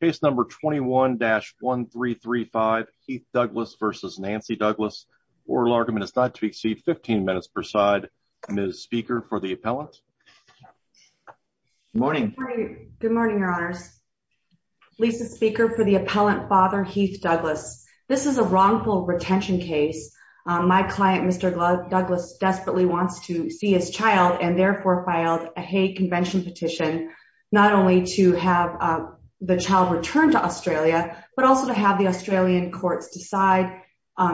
Case number 21-1335, Heath Douglas versus Nancy Douglas. Oral argument is not to exceed 15 minutes per side. Ms. Speaker for the appellant. Good morning. Good morning, your honors. Lisa Speaker for the appellant, Father Heath Douglas. This is a wrongful retention case. My client, Mr. Douglas, desperately wants to see his child and therefore filed a hate convention petition, not only to have the child returned to Australia, but also to have the Australian courts decide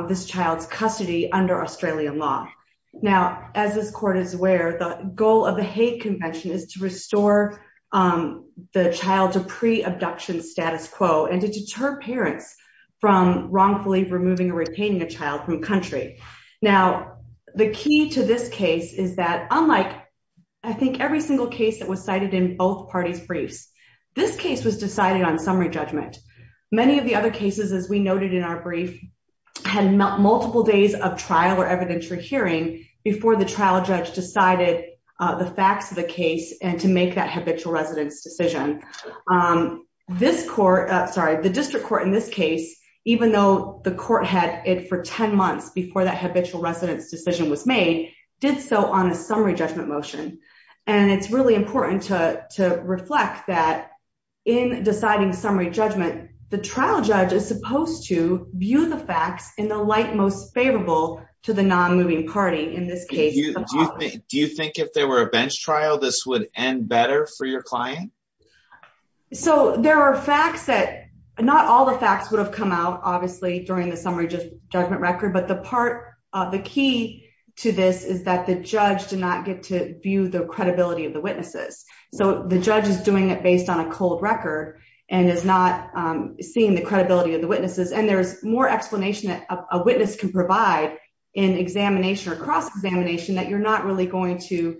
this child's custody under Australian law. Now, as this court is aware, the goal of the hate convention is to restore the child to pre-abduction status quo and to deter parents from wrongfully removing or country. Now, the key to this case is that unlike I think every single case that was cited in both parties' briefs, this case was decided on summary judgment. Many of the other cases, as we noted in our brief, had multiple days of trial or evidentiary hearing before the trial judge decided the facts of the case and to make that habitual residence decision. This court, sorry, the district court in this case, even though the court had it for 10 months before that habitual residence decision was made, did so on a summary judgment motion. And it's really important to reflect that in deciding summary judgment, the trial judge is supposed to view the facts in the light most favorable to the non-moving party in this case. Do you think if there were a bench trial, this would end better for your client? So there are facts that, not all the facts would have come out obviously during the summary judgment record, but the part, the key to this is that the judge did not get to view the credibility of the witnesses. So the judge is doing it based on a cold record and is not seeing the credibility of the witnesses. And there's more explanation that a witness can provide in examination or going to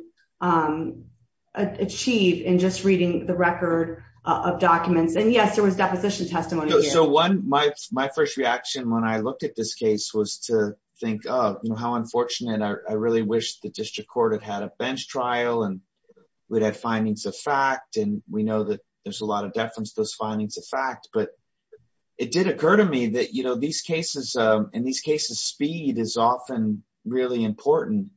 achieve in just reading the record of documents. And yes, there was deposition testimony. So one, my first reaction when I looked at this case was to think, oh, how unfortunate. I really wish the district court had had a bench trial and we'd have findings of fact. And we know that there's a lot of deference to those findings of fact, but it did occur to me that, you know, in these cases, speed is often really important.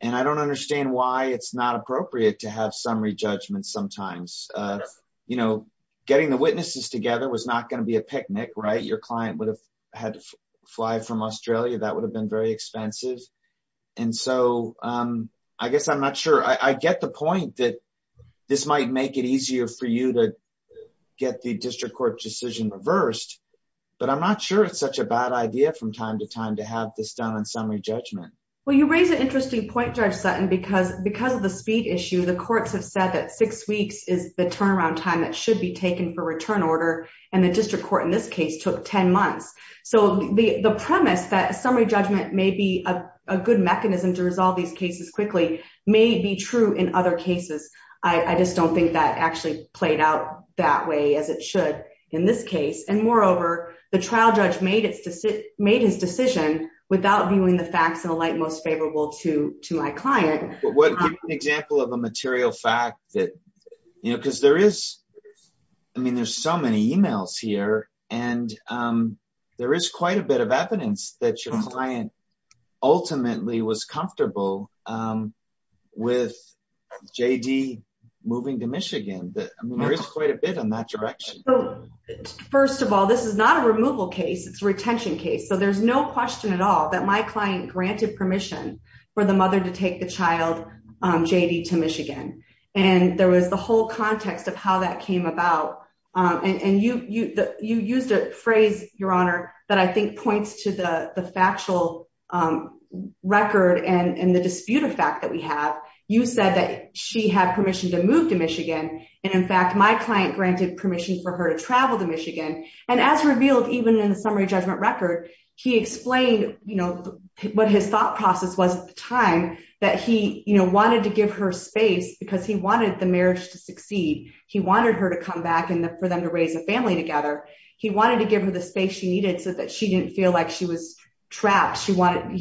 And I don't understand why it's not appropriate to have summary judgment sometimes, you know, getting the witnesses together was not going to be a picnic, right? Your client would have had to fly from Australia. That would have been very expensive. And so I guess I'm not sure I get the point that this might make it easier for you to get the district court decision reversed, but I'm not sure it's such a bad idea from time to time to have this done in summary judgment. Well, you raise an interesting point, Judge Sutton, because because of the speed issue, the courts have said that six weeks is the turnaround time that should be taken for return order. And the district court in this case took 10 months. So the premise that summary judgment may be a good mechanism to resolve these cases quickly may be true in other cases. I just don't think that actually played out that way as it should in this case. And moreover, the trial judge made his decision without viewing the facts in the light most favorable to my client. Give an example of a material fact that, you know, because there is, I mean, there's so many emails here, and there is quite a bit of evidence that your client ultimately was comfortable with J.D. moving to Michigan. There is quite a bit in that direction. First of all, this is not a removal case. It's a retention case. So there's no question at all that my client granted permission for the mother to take the child, J.D., to Michigan. And there was the whole context of how that came about. And you used a phrase, Your Honor, that I think points to the factual record and the dispute of fact that we have. You said that she had permission to move to Michigan. And in fact, my client granted permission for her to travel to Michigan. And as revealed even in the summary judgment record, he explained, you know, what his thought process was at the time that he, you know, wanted to give her space because he wanted the marriage to succeed. He wanted her to come back and for them to raise a family together. He wanted to give her the space she needed so that she didn't feel like she was trapped. He wanted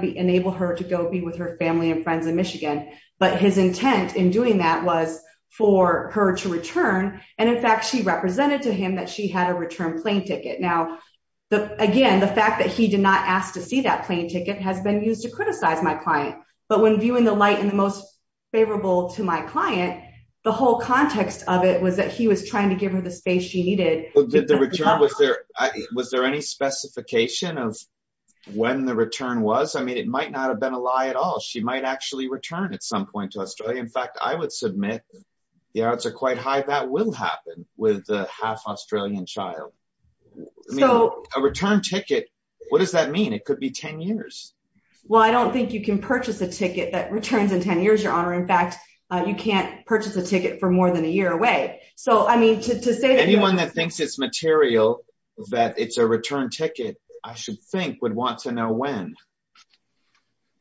to enable her to go be with her family and friends in Michigan. But his intent in doing that was for her to return. And in fact, she represented to him that she had a return plane ticket. Now, again, the fact that he did not ask to see that plane ticket has been used to criticize my client. But when viewing the light in the most favorable to my client, the whole context of it was that he was trying to give her the space she needed. Was there any specification of when the return was? I mean, it might not have been a lie at all. She might actually return at some point to Australia. In fact, I would submit the odds are quite high that will happen with the half Australian child. So a return ticket, what does that mean? It could be 10 years. Well, I don't think you can purchase a ticket that returns in 10 years, your honor. In fact, you can't purchase a ticket for more than a year away. So I mean, to say that anyone that thinks it's material, that it's a return ticket, I should think would want to know when.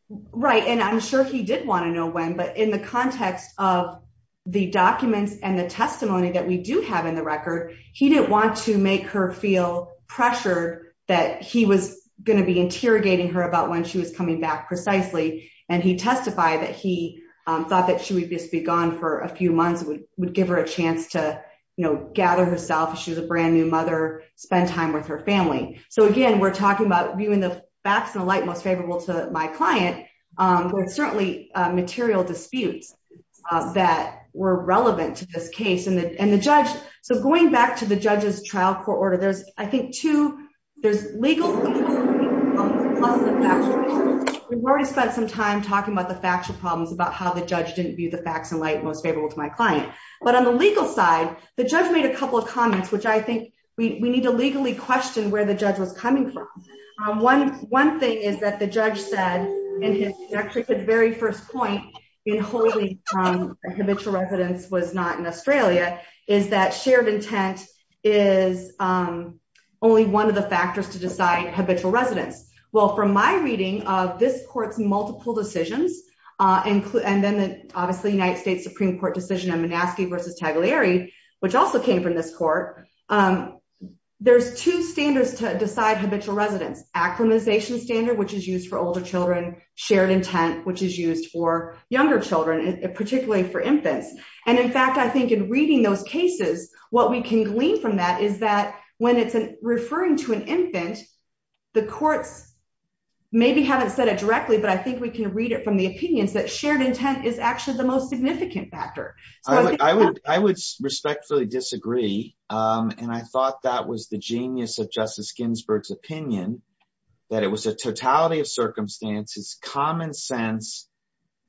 Right. And I'm sure he did want to know when. But in the context of the documents and the testimony that we do have in the record, he didn't want to make her feel pressured that he was going to be interrogating her about when she was coming back precisely. And he testified that he thought that she would just be gone for a few months, would give her a chance to, you know, gather herself. She's a brand new mother, spend time with her family. So again, we're talking about viewing the facts and the light most favorable to my client, but certainly material disputes that were relevant to this case and the judge. So going back to the judge's trial court order, there's I think two, there's legal. We've already spent some time talking about the factual problems about how the judge didn't view the facts and light most favorable to my client. But on the legal side, the judge made a couple of comments, which I think we need to legally question where the judge was coming from. One thing is that the judge said in his very first point in holding habitual residence was not in Australia, is that shared intent is only one of the factors to decide habitual residence. Well, from my reading of this court's multiple decisions, and then the obviously United States Supreme Court decision on Minaski versus Tagliari, which also came from this court, there's two standards to decide habitual residence, acclimatization standard, which is used for older children, shared intent, which is used for younger children, particularly for infants. And in fact, I think in reading those cases, what we can glean from that is that when it's referring to an infant, the courts maybe haven't said it directly, but I think we can read it from the opinions that shared intent is actually the most significant factor. I would respectfully disagree. And I thought that was the genius of Justice Ginsburg's opinion, that it was a totality of circumstances, common sense.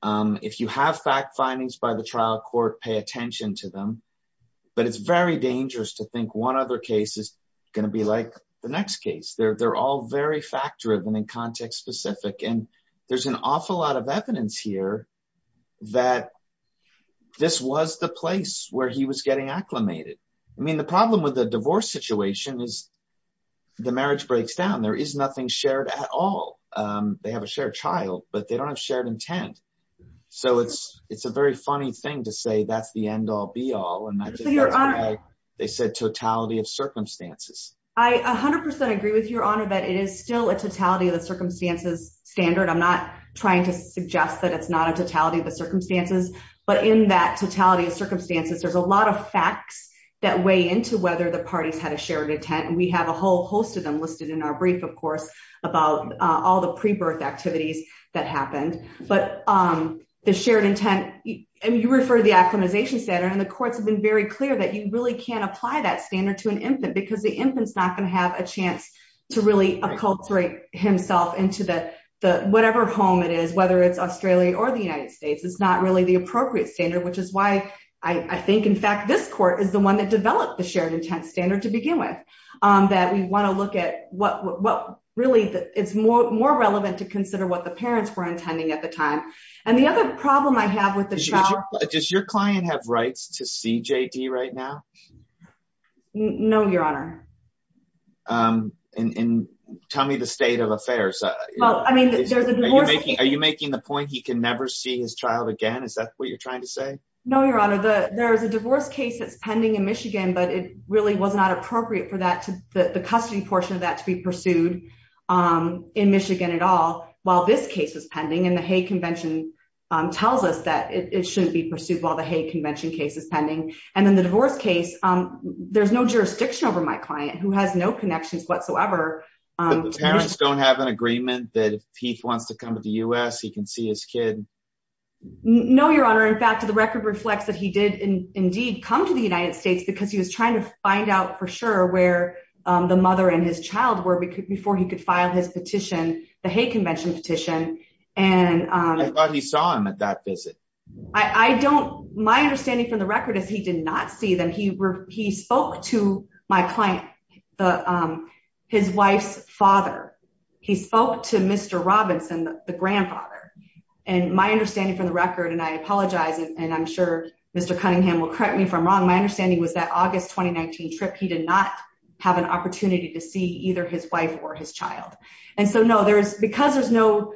If you have fact findings by the trial court, pay attention to them. But it's very dangerous to think one other case is going to be like the next case. They're all very fact-driven and context-specific. And there's an awful lot of evidence here that this was the place where he was getting acclimated. I mean, the problem with the divorce situation is the marriage breaks down. There is nothing shared at all. They have a shared child, but they don't have shared intent. So it's a very funny thing to say that's the end-all be-all. And I think that's why they said totality of circumstances. I 100% agree with your honor that it is still a totality of the circumstances standard. I'm not trying to suggest that it's not a totality of the circumstances, but in that totality of circumstances, there's a lot of facts that weigh into whether the parties had a shared intent. And we have a whole host of them listed in our brief, of course, about all the pre-birth activities that happened. But the shared intent, and you referred to the acclimatization standard, and the courts have been very clear that you really can't apply that standard to an infant because the infant's not going to have a chance to really acculturate himself into whatever home it is, whether it's Australia or the United States. It's not really the appropriate standard, which is why I think, in fact, this court is the one that developed the shared intent standard to at the time. And the other problem I have with the child- Does your client have rights to see JD right now? No, your honor. And tell me the state of affairs. Are you making the point he can never see his child again? Is that what you're trying to say? No, your honor. There's a divorce case that's pending in Michigan, but it really was not appropriate for the custody portion of that to be pursued in Michigan at all. While this case is pending, and the Hague Convention tells us that it shouldn't be pursued while the Hague Convention case is pending. And then the divorce case, there's no jurisdiction over my client, who has no connections whatsoever. But the parents don't have an agreement that if Heath wants to come to the U.S., he can see his kid? No, your honor. In fact, the record reflects that he did indeed come to the United States because he was trying to find out for sure where the mother and his child were before he could his petition, the Hague Convention petition. I thought he saw him at that visit. My understanding from the record is he did not see them. He spoke to my client, his wife's father. He spoke to Mr. Robinson, the grandfather. And my understanding from the record, and I apologize, and I'm sure Mr. Cunningham will correct me if I'm wrong. My understanding was that August 2019 he did not have an opportunity to see either his wife or his child. And so, no, because there's no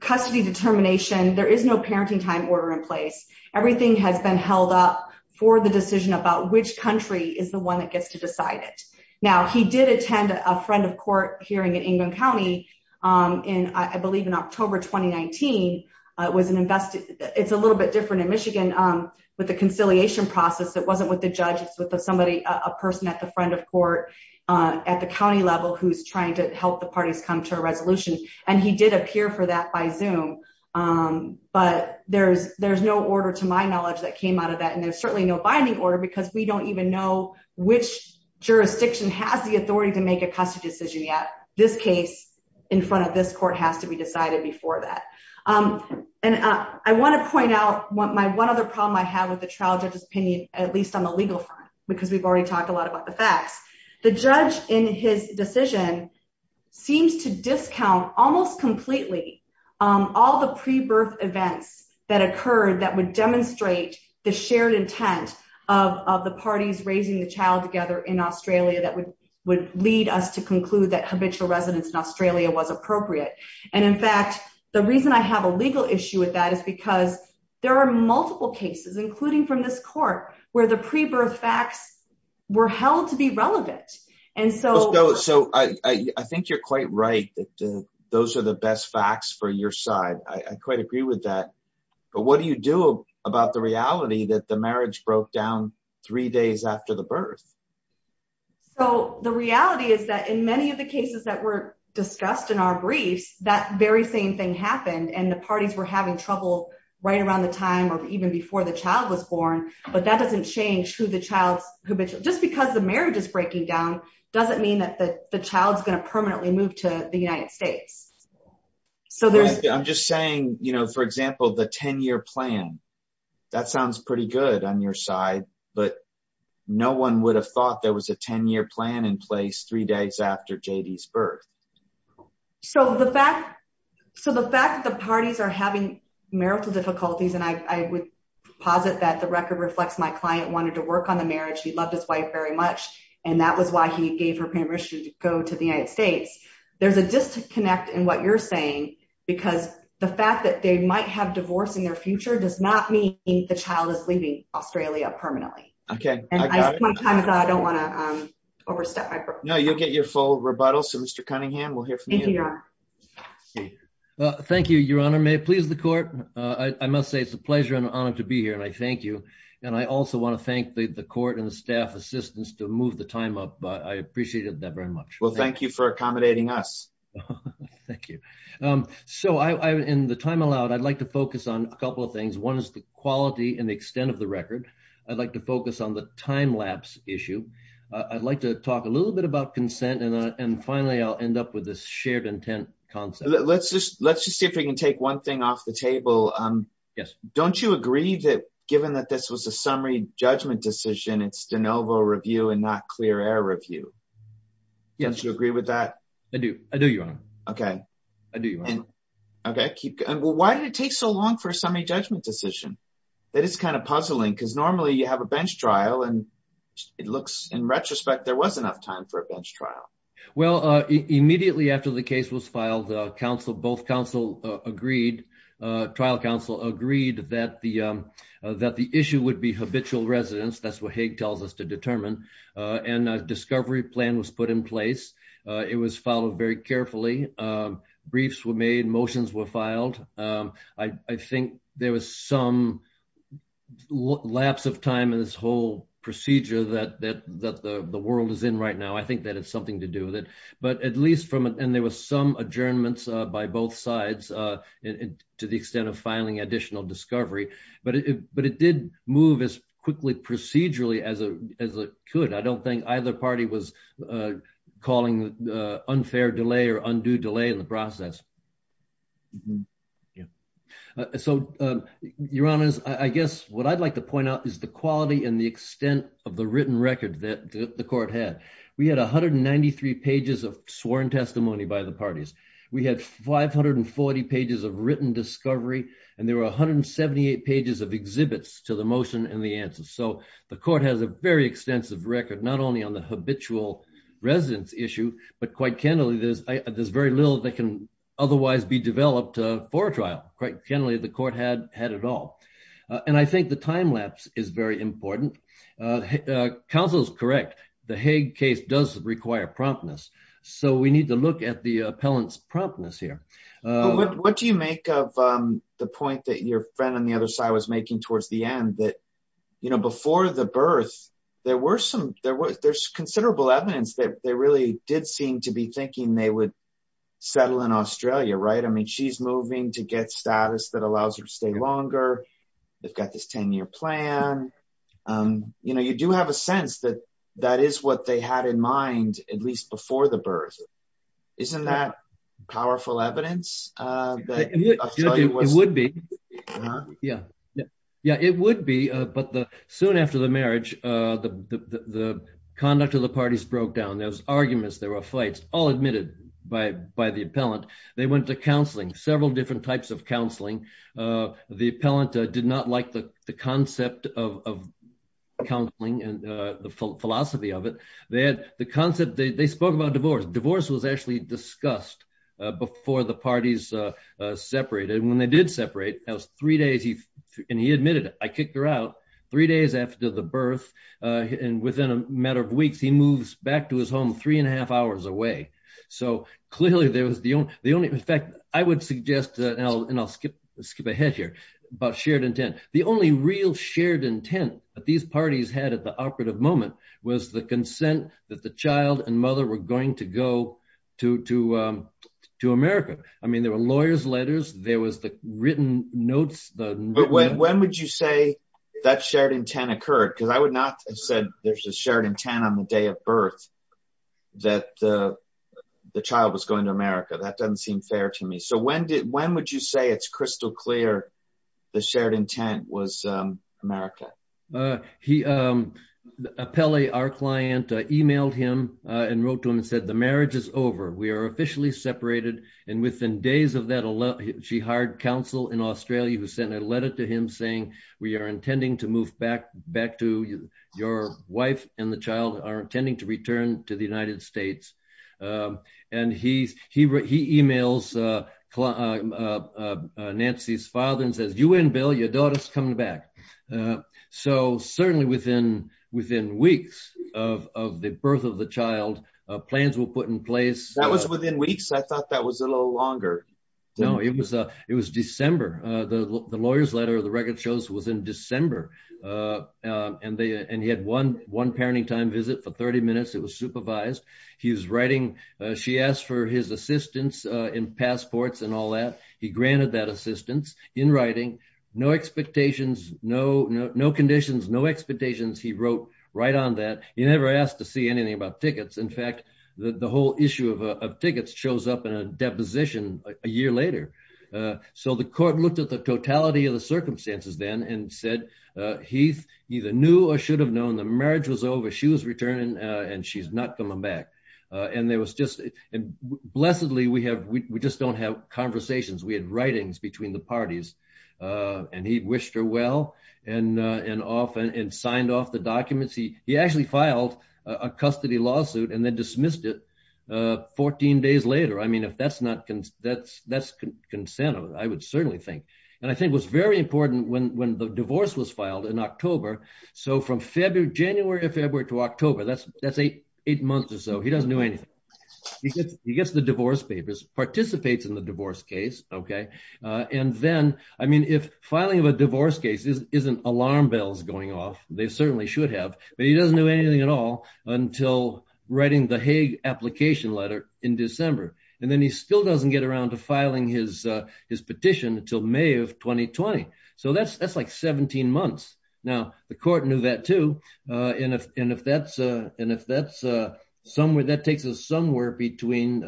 custody determination, there is no parenting time order in place. Everything has been held up for the decision about which country is the one that gets to decide it. Now, he did attend a friend of court hearing in Ingham County, I believe in October 2019. It's a little bit different in Michigan with the conciliation process. It wasn't the judge. It's somebody, a person at the front of court at the county level who's trying to help the parties come to a resolution. And he did appear for that by Zoom. But there's no order, to my knowledge, that came out of that. And there's certainly no binding order because we don't even know which jurisdiction has the authority to make a custody decision yet. This case in front of this court has to be decided before that. And I want to point out my one other problem I have with the trial judge's opinion, at least on the legal front, because we've already talked a lot about the facts. The judge in his decision seems to discount almost completely all the pre-birth events that occurred that would demonstrate the shared intent of the parties raising the child together in Australia that would lead us to conclude that habitual residence in Australia was appropriate. And in fact, the reason I have a legal issue with is because there are multiple cases, including from this court, where the pre-birth facts were held to be relevant. So I think you're quite right that those are the best facts for your side. I quite agree with that. But what do you do about the reality that the marriage broke down three days after the birth? So the reality is that in many of the cases that were discussed in our right around the time or even before the child was born, but that doesn't change who the child's habitual, just because the marriage is breaking down, doesn't mean that the child's going to permanently move to the United States. So there's, I'm just saying, you know, for example, the 10 year plan, that sounds pretty good on your side, but no one would have thought there was a 10 year plan in place three days after JD's birth. So the fact that the parties are having marital difficulties, and I would posit that the record reflects my client wanted to work on the marriage. He loved his wife very much. And that was why he gave her permission to go to the United States. There's a disconnect in what you're saying, because the fact that they might have divorce in their future does not mean the child is leaving Australia permanently. Okay. Now you'll get your full rebuttal. So Mr. Cunningham, we'll hear from you. Thank you, Your Honor, may it please the court. I must say it's a pleasure and honor to be here. And I thank you. And I also want to thank the court and the staff assistance to move the time up. But I appreciated that very much. Well, thank you for accommodating us. Thank you. So I in the time allowed, I'd like to focus on a couple of things. One is the quality and the extent of the record. I'd like to focus on the time lapse issue. I'd like to talk a little bit about consent. And finally, I'll end up with this shared intent concept. Let's just let's just see if we can take one thing off the table. Yes. Don't you agree that given that this was a summary judgment decision, it's de novo review and not clear air review? Yes. Do you agree with that? I do. I do, Your Honor. Okay. I do. Okay, keep going. Why did it take so long for a summary judgment decision? That is kind of puzzling because normally you have a bench trial and it looks in retrospect, there was enough time for a bench trial. Well, immediately after the case was filed, counsel, both counsel agreed, trial counsel agreed that the that the issue would be habitual residents. That's what Hague tells us to determine. And a discovery plan was put in place. It was followed very carefully. Briefs were made, motions were filed. I think there was some lapse of time in this whole procedure that that that the world is in right now. I think that it's something to do with it. But at least from it, and there was some adjournments by both sides, to the extent of filing additional discovery, but but it did move as quickly procedurally as a as a good I don't think either party was calling the unfair delay or undue delay in the process. So, Your Honor, I guess what I'd like to point out is the quality and the extent of the written record that the court had. We had 193 pages of sworn testimony by the parties. We had 540 pages of written discovery. And there were 178 pages of exhibits to the motion and the answer. So the court has a very extensive record, not only on the habitual residence issue, but quite candidly, there's there's very little that can otherwise be developed for trial. Quite candidly, the court had had it all. And I think the time lapse is very important. Counsel's correct. The Hague case does require promptness. So we need to look at the appellant's promptness here. What do you make of the point that your friend on the other side was making towards the end that, you know, before the birth, there were some there was there's considerable evidence that they really did seem to be thinking they would settle in Australia, right? I mean, she's moving to get status that allows her to stay longer. They've got this 10 year plan. You know, you do have a sense that that is what they had in mind, at least before the birth. Isn't that powerful evidence? It would be. Yeah, yeah, it would be. But the soon after the marriage, the conduct of the parties broke down those arguments, there were fights all admitted by by the appellant. They went to counseling, several different types of counseling. The appellant did not like the concept of counseling and the philosophy of it. They had the concept they spoke about divorce. Divorce was actually discussed before the parties separated when they did separate. That was three days. And he admitted, I kicked her out three days after the birth. And within a matter of weeks, he moves back to his home three and a half hours away. So clearly, there was the only the only I would suggest and I'll skip skip ahead here about shared intent. The only real shared intent that these parties had at the operative moment was the consent that the child and mother were going to go to to to America. I mean, there were lawyers letters, there was the written notes. When would you say that shared intent occurred? Because I would not have said there's a shared intent on the day of birth, that the child was going to America, that doesn't seem fair to me. So when did when would you say it's crystal clear, the shared intent was America? He appellee, our client emailed him and wrote to him and said, the marriage is over, we are officially separated. And within days of that, she hired counsel in Australia, who sent a letter to him saying, we are intending to move back back to your wife and the child are intending to return to the United States. And he's he wrote he emails Nancy's father and says, you win, Bill, your daughter's coming back. So certainly within within weeks of the birth of the child, plans were put in place. That was within weeks. I thought that was a little longer. No, it was it was December, the lawyer's letter, the record shows was in December. And they and he had one one parenting time visit for 30 minutes, it was supervised. He was writing, she asked for his assistance in passports and all that he granted that assistance in writing, no expectations, no, no, no conditions, no expectations. He wrote right on that he never asked to see anything about looked at the totality of the circumstances then and said, he either knew or should have known the marriage was over, she was returning, and she's not coming back. And there was just, blessedly, we have, we just don't have conversations, we had writings between the parties. And he wished her well, and, and often and signed off the documents, he he actually filed a custody lawsuit and then dismissed it. 14 days later, I mean, if that's not, that's, that's consent of it, I would certainly think. And I think was very important when when the divorce was filed in October. So from February, January, February to October, that's that's eight, eight months or so he doesn't do anything. He gets the divorce papers participates in the divorce case, okay. And then, I mean, if filing of a divorce case isn't isn't alarm bells going off, they certainly should have, but he doesn't do anything at all until writing the Hague application letter in December. And then he still doesn't get around to filing his, his petition until May of 2020. So that's, that's like 17 months. Now, the court knew that too. And if and if that's, and if that's somewhere that takes us somewhere between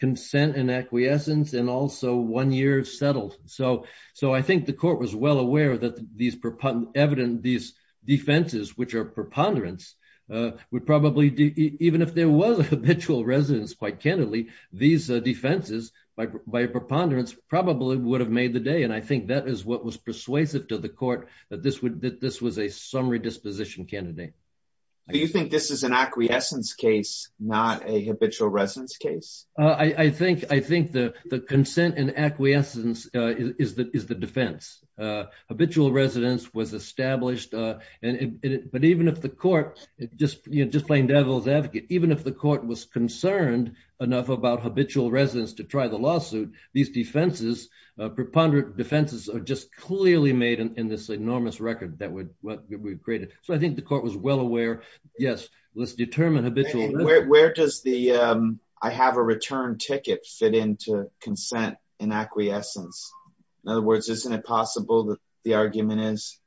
consent and acquiescence and also one year settled. So, so I think the court was well aware that these proponent evident these defenses, which are preponderance, would probably do even if there was a habitual residence, quite candidly, these defenses by by preponderance probably would have made the day and I think that is what was persuasive to the court that this would that this was a summary disposition candidate. Do you think this is an acquiescence case, not a habitual residence case? I think I think the the consent and acquiescence is that is the defense habitual residence was but even if the court just just plain devil's advocate, even if the court was concerned enough about habitual residence to try the lawsuit, these defenses, preponderant defenses are just clearly made in this enormous record that would what we've created. So I think the court was well aware. Yes, let's determine habitual where does the I have a return ticket fit into consent and acquiescence. In other words, isn't it possible that the argument is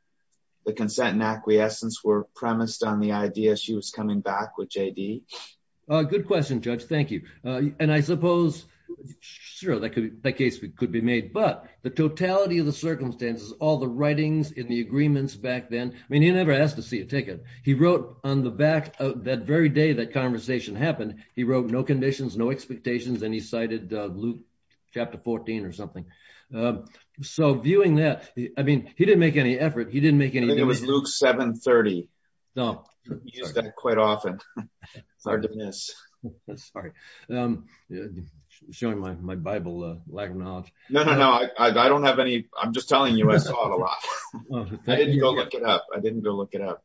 the consent and acquiescence were premised on the idea she was coming back with JD? A good question, Judge. Thank you. And I suppose, sure, that could that case could be made. But the totality of the circumstances, all the writings in the agreements back then, I mean, he never asked to see a ticket. He wrote on the back of that very day that conversation happened. He wrote no conditions, no expectations, and he cited Luke chapter 14 or something. So viewing that, I mean, he didn't make any effort. He didn't make any. It was Luke 730. Don't use that quite often. It's hard to miss. Sorry. I'm showing my my Bible lack of knowledge. No, no, no, I don't have any. I'm just telling you, I saw a lot. I didn't go look it up. I didn't go look it up.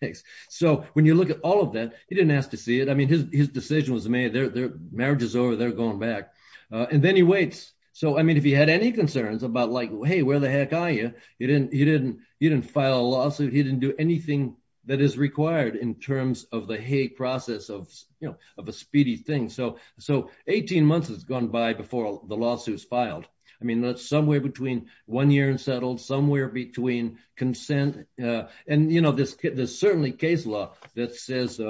Thanks. So when you look at all of that, he didn't ask to see it. I mean, his decision was made there. Their marriage is over. They're going back. And then he waits. So I mean, he had any concerns about like, hey, where the heck are you? He didn't. He didn't. He didn't file a lawsuit. He didn't do anything that is required in terms of the process of, you know, of a speedy thing. So so 18 months has gone by before the lawsuits filed. I mean, that's somewhere between one year and settled somewhere between consent. And, you know, there's certainly case law that says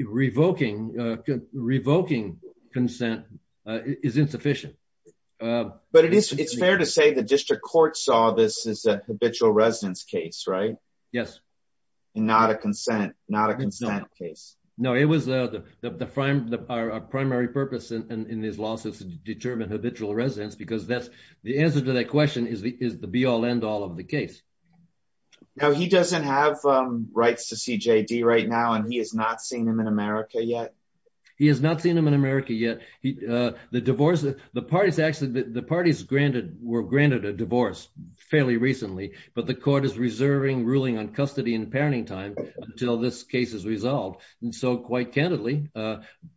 revoking, revoking consent is insufficient. But it is it's fair to say the district court saw this as a habitual residence case, right? Yes. And not a consent, not a consent case. No, it was the prime primary purpose in this lawsuit to determine habitual residence, because that's the answer to that question is the be all end all of the case. Now, he doesn't have rights to see J.D. right now, and he has not seen him in America yet. He has not seen him in America yet. The divorce, the parties, actually, the parties granted were granted a divorce fairly recently. But the court is reserving ruling on custody and parenting time until this case is resolved. And so quite candidly,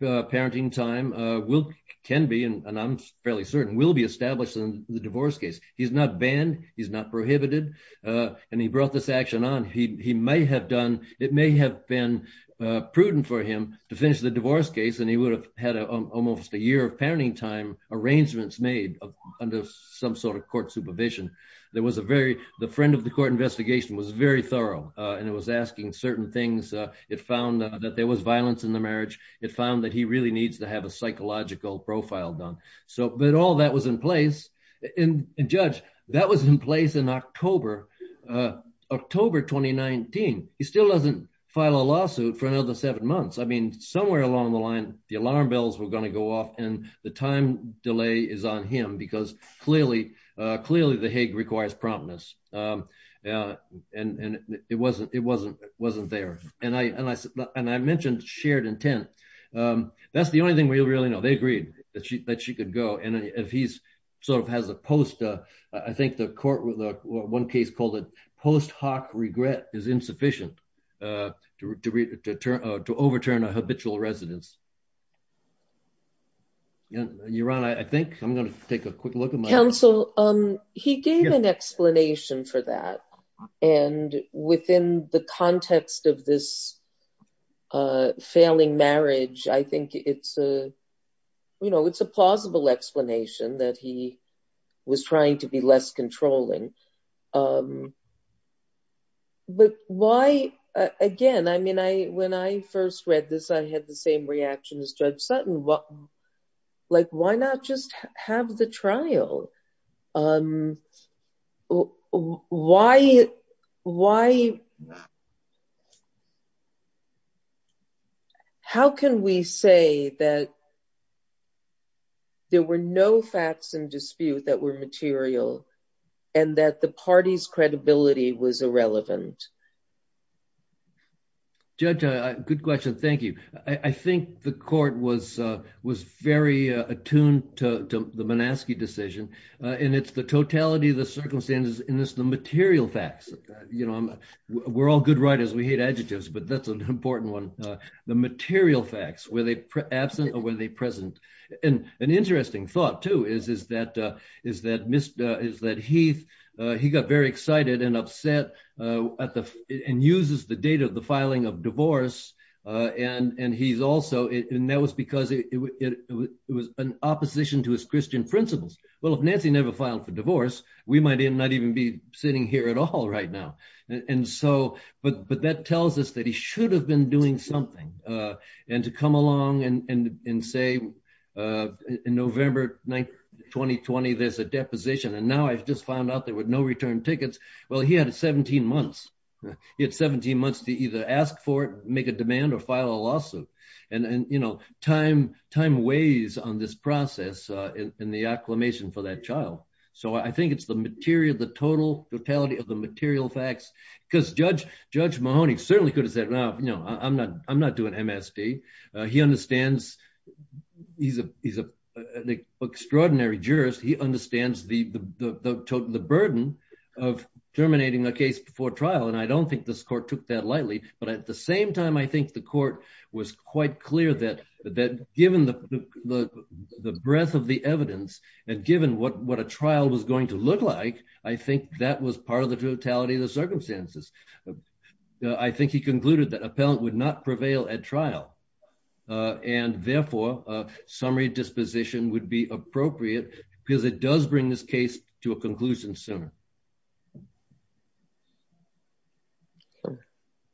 parenting time will can be and I'm fairly certain will be established in the divorce case. He's not banned. He's not prohibited. And he brought this action on. He may have done it may have been prudent for him to finish the divorce case. And he would have had almost a year of parenting time arrangements made under some sort of court supervision. There was a very the friend of the court investigation was very thorough and it was asking certain things. It found that there was violence in the marriage. It found that he really needs to have a psychological profile done. So but all that was in place and judge that was in place in October, October 2019. He still doesn't file a lawsuit for another seven months. I mean, somewhere along the line, the alarm bells were going to go off and the time delay is on him because clearly, clearly the Hague requires promptness. And it wasn't it wasn't it wasn't there. And I and I and I mentioned shared intent. That's the only thing we really know. They agreed that she that she could go. And if he's sort of has a post, I think the court with one case called it post hoc regret is insufficient to overturn a habitual residence. Your Honor, I think I'm going to take a quick look at my counsel. He gave an explanation for that. And within the context of this failing marriage, I think it's a, you know, it's a plausible explanation that he was trying to be less controlling. But why? Again, I mean, I when I first read this, I had the same reaction as Judge Sutton. Like, why not just have the trial? Why? Why? How can we say that there were no facts in dispute that were material and that the party's credibility was irrelevant? Judge, good question. Thank you. I think the court was was very attuned to the Manaski decision. And it's the totality of the circumstances in this, the material facts, you know, we're all good writers. We hate adjectives, but that's an important one. The material facts, were they absent or were they present? And an interesting thought, too, is, is that, is that Mr. is that he got very excited and upset at the, and uses the date of the filing of divorce. And he's also, and that was because it was an opposition to his Christian principles. Well, if Nancy never filed for divorce, we might not even be sitting here at all right now. And so, but that tells us that he should have been doing something. And to come along and say, in November 9th, 2020, there's a deposition. And now I've just found out there were no return tickets. Well, he had 17 months. He had 17 months to either ask for it, make a demand or file a lawsuit. And, you know, time, time weighs on this process in the acclamation for that child. So I think it's the material, the total totality of the material facts, because Judge Mahoney certainly could have said, well, you know, I'm not, I'm not doing MSD. He understands he's a, he's a, an extraordinary jurist. He understands the, the, the burden of terminating a case before trial. And I don't think this court took that lightly, but at the same time, I think the court was quite clear that, that given the, the, the breadth of the evidence and given what, what a trial was going to look like, I think that was part of the totality of the circumstances. I think he concluded that appellant would not prevail at trial and therefore a summary disposition would be appropriate because it does bring this case to a conclusion sooner.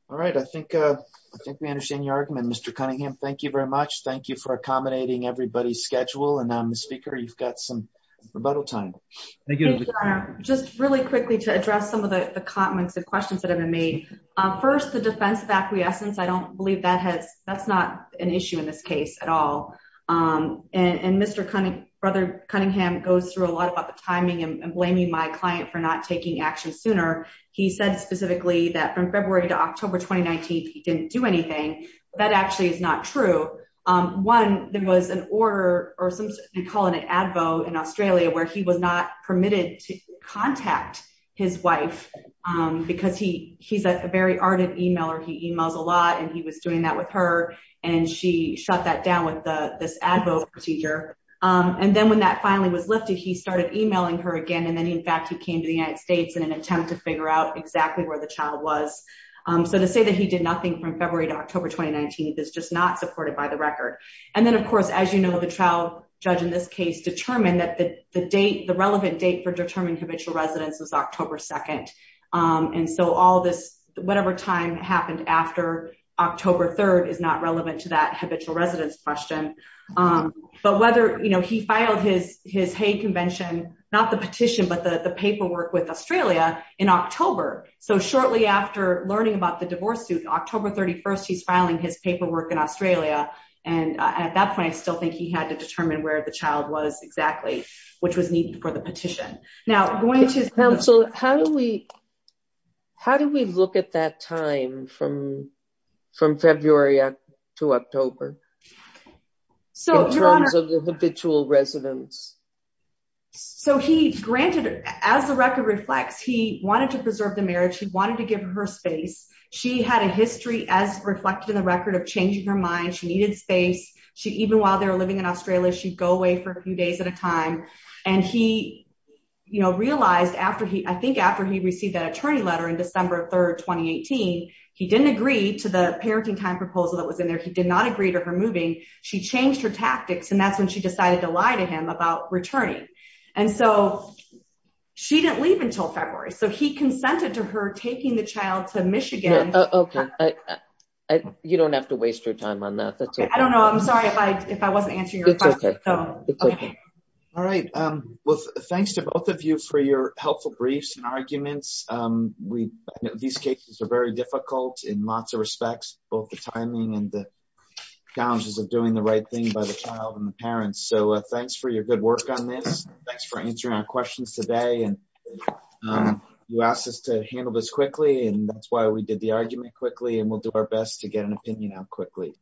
All right. I think, I think we understand your argument, Mr. Cunningham. Thank you very much. Thank you for accommodating everybody's schedule. And Ms. Speaker, you've got some rebuttal time. Thank you. Just really quickly to address some of the comments and questions that have been made. First, the defense of acquiescence, I don't believe that has, that's not an issue in this case at all. And, and Mr. Cunningham, brother Cunningham goes through a lot about the timing and blaming my client for not taking action sooner. He said specifically that from February to October, 2019, he didn't do anything. That actually is not true. One, there was an order or some, we call it an Advo in Australia, where he was not permitted to contact his wife because he, he's a very ardent emailer. He emails a lot and he was doing that with her. And she shut that down with the, this Advo procedure. And then when that finally was lifted, he started emailing her again. And then in fact, he came to the United States in an attempt to figure out exactly where the child was. So to say that he did nothing from February to October, 2019, it's just not supported by the record. And then of course, as you know, the trial judge in this case determined that the date, the relevant date for determining habitual residence was October 2nd. And so all this, whatever time happened after October 3rd is not relevant to that habitual residence question. But whether, you know, he filed his, his Hague convention, not the petition, but the paperwork with Australia in October. So shortly after learning about the divorce suit, October 31st, he's filing his paperwork in Australia. And at that point, I still think he had to determine where the child was exactly, which was needed for the petition. Now going to his counsel, how do we, how do we look at that time from, from February to October? So in terms of the habitual residence. So he granted as the record reflects, he wanted to preserve the marriage. He wanted to give her space. She had a history as reflected in the record of changing her mind. She needed space. She, even while they were living in Australia, she'd go away for a few days at a time. And he, you know, realized after he, I think after he received that attorney letter in December 3rd, 2018, he didn't agree to the parenting time proposal that was in there. He did not agree to her moving. She changed her tactics. And that's when she decided to lie to him about returning. And so she didn't leave until February. So he consented to her taking the child to Michigan. You don't have to waste your time on that. I don't know. I'm sorry if I, if I wasn't answering. All right. Well, thanks to both of you for your helpful briefs and arguments. These cases are very difficult in lots of respects, both the timing and the challenges of doing the right thing by the child and the parents. So thanks for your good work on this. Thanks for answering our questions today. And you asked us to handle this quickly and that's why we did the argument quickly and we'll do our best to get an opinion out quickly.